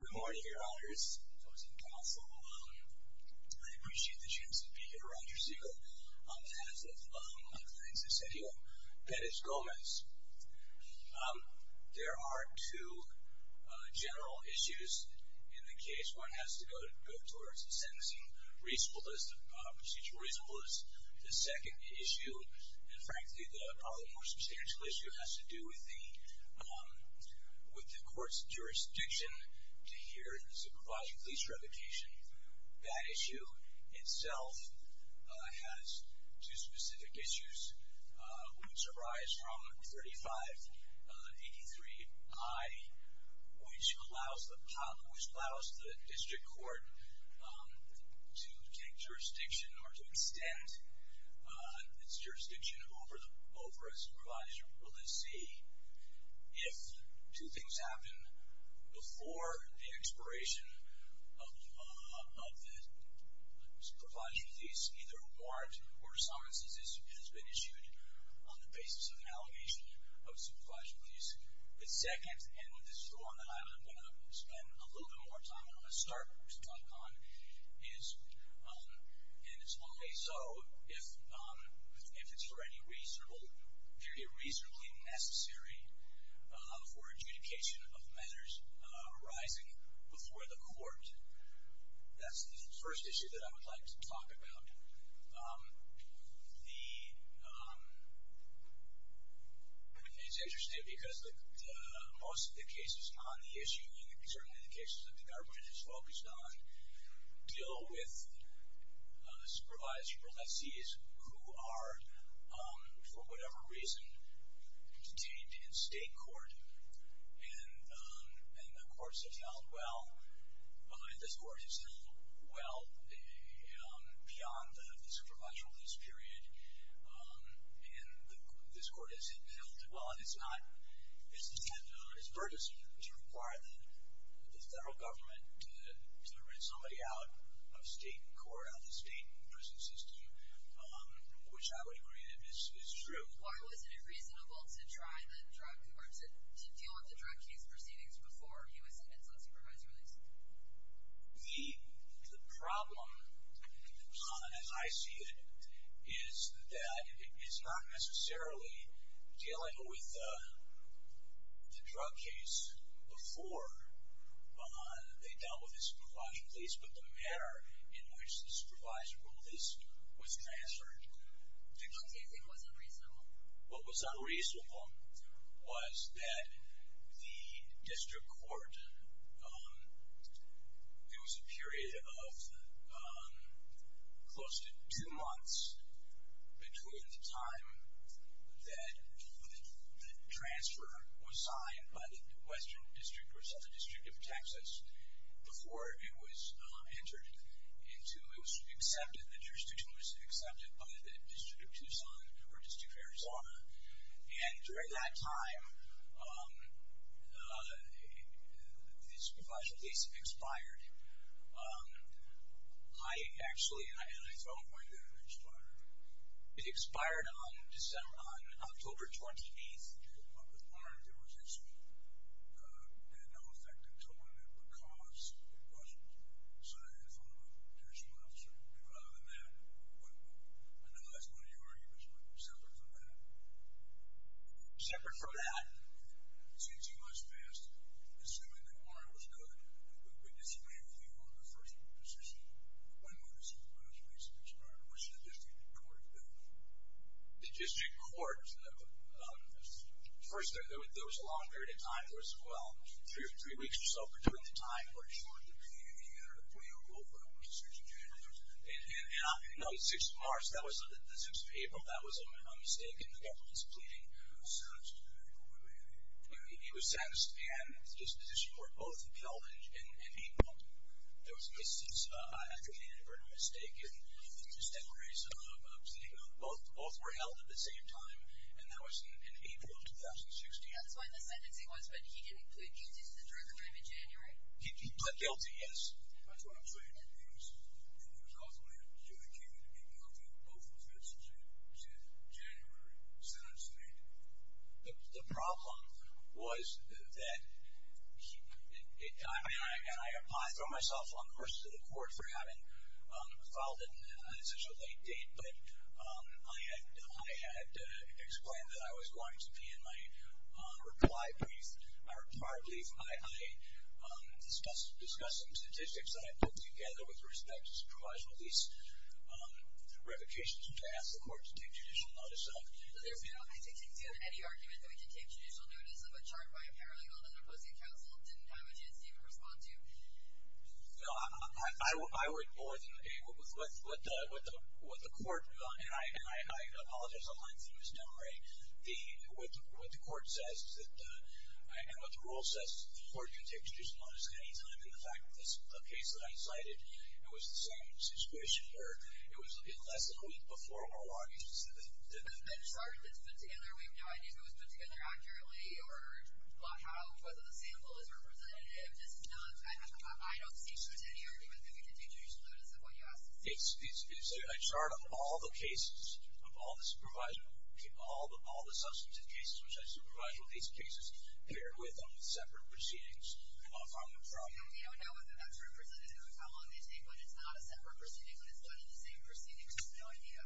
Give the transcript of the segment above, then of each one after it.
Good morning, your honors. I appreciate the chance to be here around your ceremony on behalf of my client, Cesareo Perez-Gomez. There are two general issues in the case. One has to go towards the sentencing reasonable, procedural reasonableness. The second issue, and frankly the probably more substantial issue, has to do with the court's jurisdiction to hear and supervise a police revocation. That issue itself has two specific issues, which arise from 3583I, which allows the district court to take jurisdiction or to extend its jurisdiction over a supervised police. If two things happen before the expiration of the supervised police, either a warrant or summonses has been issued on the basis of an allegation of supervised police. The second, and this is one that I'm going to spend a little bit more time and I'm going to start to talk on, is, and it's only so if it's for any reasonable, purely reasonably necessary for adjudication of measures arising before the court. That's the first issue that I would like to talk about. It's interesting because most of the cases on the issue, and certainly the cases that the government is focused on, deal with supervised proletees who are, for whatever reason, detained in state court. And the courts have held well, this court has held well beyond the supervised police period, and this court has held well. And it's not, it's not, it's burdensome to require the federal government to rent somebody out of state court, out of the state prison system, which I would agree is true. Why wasn't it reasonable to try the drug, or to deal with the drug case proceedings before he was sentenced on supervised release? The problem, as I see it, is that it's not necessarily dealing with the drug case before they dealt with the supervised police, but the manner in which the supervised release was transferred. The drug case, it wasn't reasonable. What was unreasonable was that the district court, there was a period of close to two months between the time that the transfer was signed by the Western District versus the District of Texas, before it was entered into, it was accepted, the jurisdiction was accepted by the District of Tucson or District of Arizona. And during that time, the supervised release expired. So when did it expire? It expired on December, on October 28th. With Warren, there was a smooth, it had no effect on the tournament because it wasn't signed in front of a potential officer. But other than that, I know that's one of your arguments, but separate from that? Separate from that. Since he was fast, assuming that Warren was good, we disagree with you on the first position. When was the supervised release expired? What should the district court do? The district court, first, there was a long period of time. There was, well, three weeks or so, but during the time, we're assured there'd be a plea over January 6th. And on the 6th of March, that was the 6th of April. Well, that was a mistake and the government's pleading. He was sentenced to a year and a half. He was sentenced and his disposition were both held in April. There was a misuse of an advocate and a murder mistake. And just a case of both were held at the same time. And that was in April of 2016. That's when the sentencing was, but he didn't plead guilty to the drug crime in January? He plead guilty, yes. That's what I'm saying. He was ultimately adjudicated guilty of both offenses in the January sentencing. The problem was that, I mean, I throw myself on the horse to the court for having filed it on such a late date, but I had explained that I was going to be in my reply brief, my reply brief. I discussed some statistics that I put together with respect to the provisional lease revocations to ask the court to take judicial notice of. Was there a penalty to take due to any argument that we could take judicial notice of a chart by a paralegal that an opposing counsel didn't have a chance to even respond to? No. I would more than agree with what the court, and I apologize on my end for misnomering, but what the court says, and what the rule says, the court can take judicial notice at any time. And the fact that the case that I cited, it was the same situation, where it was less than a week before we were logged in. The chart that's put together, we have no idea if it was put together accurately or whether the sample is representative. I don't see any argument that we could take judicial notice of what you asked us to do. It's a chart of all the cases, of all the substantive cases which I supervise, with these cases paired with separate proceedings from the trial. We don't know if that's representative, how long they take when it's not a separate proceeding, when it's done in the same proceeding. Just no idea.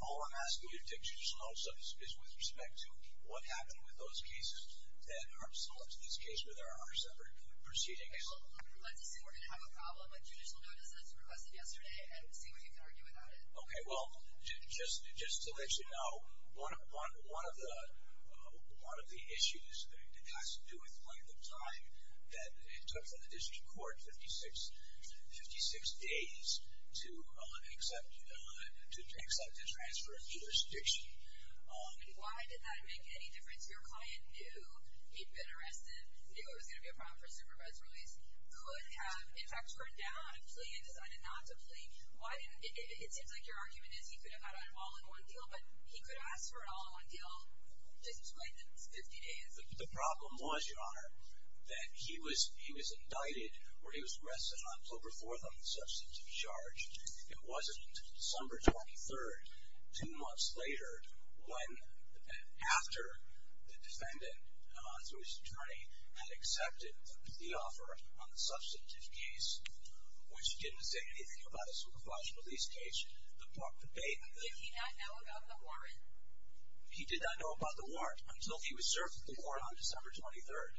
All I'm asking you to take judicial notice of is with respect to what happened with those cases that aren't still up to this case where there are separate proceedings. Okay, well, let's assume we're going to have a problem with judicial notice that's requested yesterday and see what you can argue about it. Okay, well, just to let you know, one of the issues has to do with length of time that it took for the district court 56 days to accept and transfer a jurisdiction. Why did that make any difference? Your client knew he'd been arrested, knew it was going to be a problem for supervised release, could have, in fact, turned down a plea and decided not to plea. It seems like your argument is he could have got it all in one deal, but he could ask for it all in one deal just within 50 days. The problem was, Your Honor, that he was indicted or he was arrested on October 4th on the substantive charge. It wasn't until December 23rd, two months later, after the defendant, through his attorney, had accepted the offer on the substantive case, which didn't say anything about a supervised release case. Did he not know about the warrant? He did not know about the warrant until he was served with the warrant on December 23rd.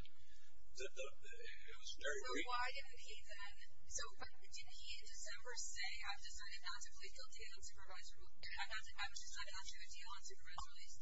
Why didn't he then? Didn't he in December say, I've decided not to plead guilty on supervised release?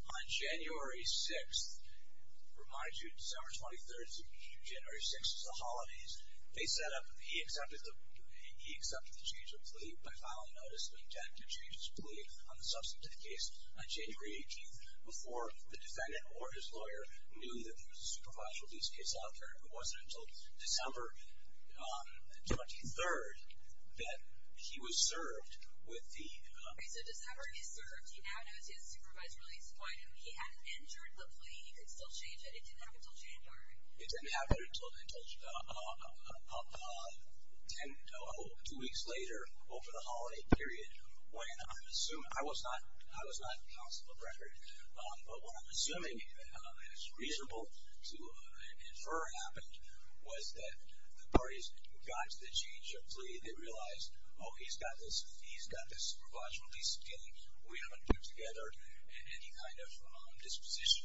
On January 6th, I remind you, December 23rd to January 6th is the holidays. They set up, he accepted the change of plea by filing notice of intent to change his plea on the substantive case on January 18th before the defendant or his lawyer knew that there was a supervised release case out there. It wasn't until December 23rd that he was served with the— Okay, so December he served. He now knows he has supervised release. Why didn't he? He hadn't entered the plea. He could still change it. It didn't happen until January. It didn't happen until two weeks later over the holiday period when I'm assuming— What's reasonable to infer happened was that the parties who got to the change of plea, they realized, oh, he's got this supervised release again. We haven't put together any kind of disposition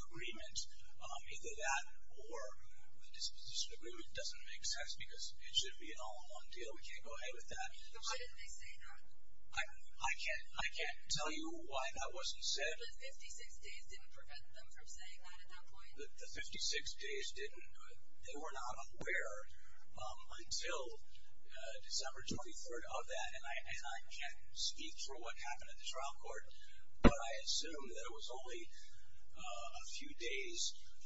agreement. Either that or the disposition agreement doesn't make sense because it should be an all-in-one deal. We can't go ahead with that. So why didn't they say that? I can't tell you why that wasn't said. The 56 days didn't prevent them from saying that at that point? The 56 days didn't. They were not aware until December 23rd of that, and I can't speak for what happened at the trial court, but I assume that it was only a few days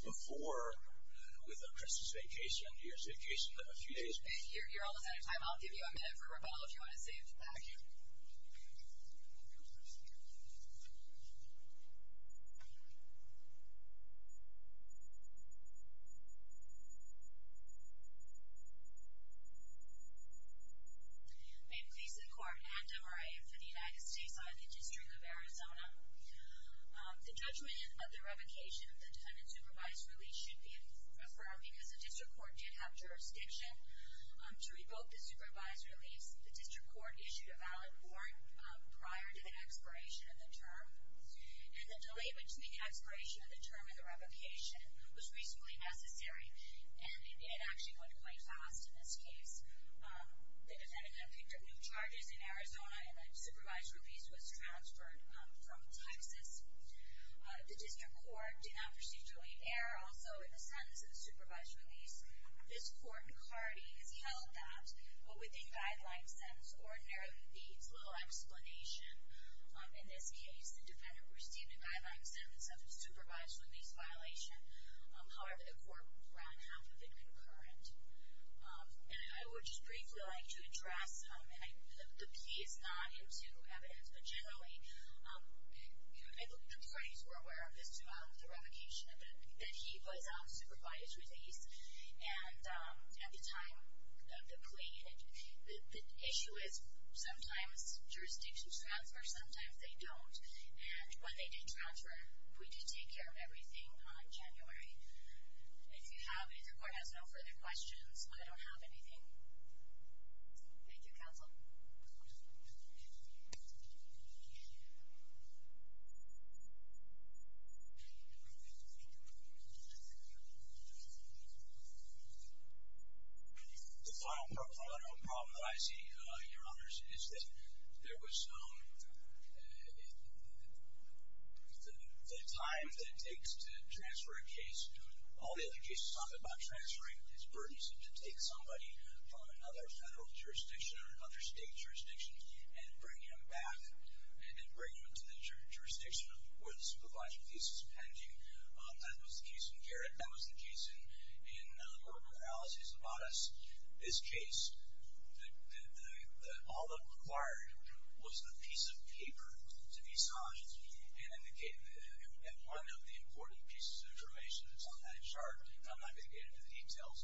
before with the Christmas vacation, New Year's vacation, a few days before. You're almost out of time. I'll give you a minute for Rebecca if you want to save that. Thank you. Thank you. May it please the Court, Anne Demarais for the United States Law and the District of Arizona. The judgment of the revocation of the defendant's supervised release should be affirmed because the district court did have jurisdiction to revoke the supervised release. The district court issued a valid warrant prior to the expiration of the term, and the delay between the expiration of the term and the revocation was reasonably necessary, and it actually went quite fast in this case. The defendant then picked up new charges in Arizona, and the supervised release was transferred from Texas. The district court did not procedurally err also in the sentence of the supervised release. This court and party has held that what would be a guideline sentence ordinarily would be. It's a little explanation in this case. The defendant received a guideline sentence of a supervised release violation. However, the court ran half of it concurrent. And I would just briefly like to address, and the plea is not into evidence, but generally the parties were aware of this throughout the revocation that he was on supervised release. And at the time of the plea, the issue is sometimes jurisdictions transfer, sometimes they don't. And when they do transfer, we do take care of everything on January. If the court has no further questions, I don't have anything. Thank you, counsel. The final problem that I see, Your Honors, is that there was the time that it takes to transfer a case. All the other cases talk about transferring. It's burdensome to take somebody from another federal jurisdiction or another state jurisdiction and bring him back and bring him into the jurisdiction where the supervised release is pending. That was the case in Garrett. That was the case in the court of analyses of Otis. This case, all that required was the piece of paper to be signed and one of the important pieces of information that's on that chart, and I'm not going to get into the details,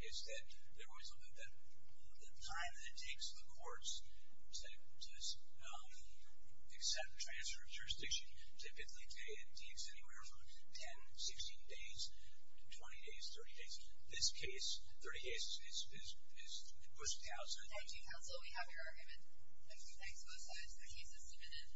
is that there was the time that it takes the courts to accept transfer of jurisdiction. Typically, it takes anywhere from 10, 16 days to 20 days, 30 days. This case, 30 days, is pushed out. Thank you, counsel. We have your argument. Thank you. Thanks, both sides. The case is submitted.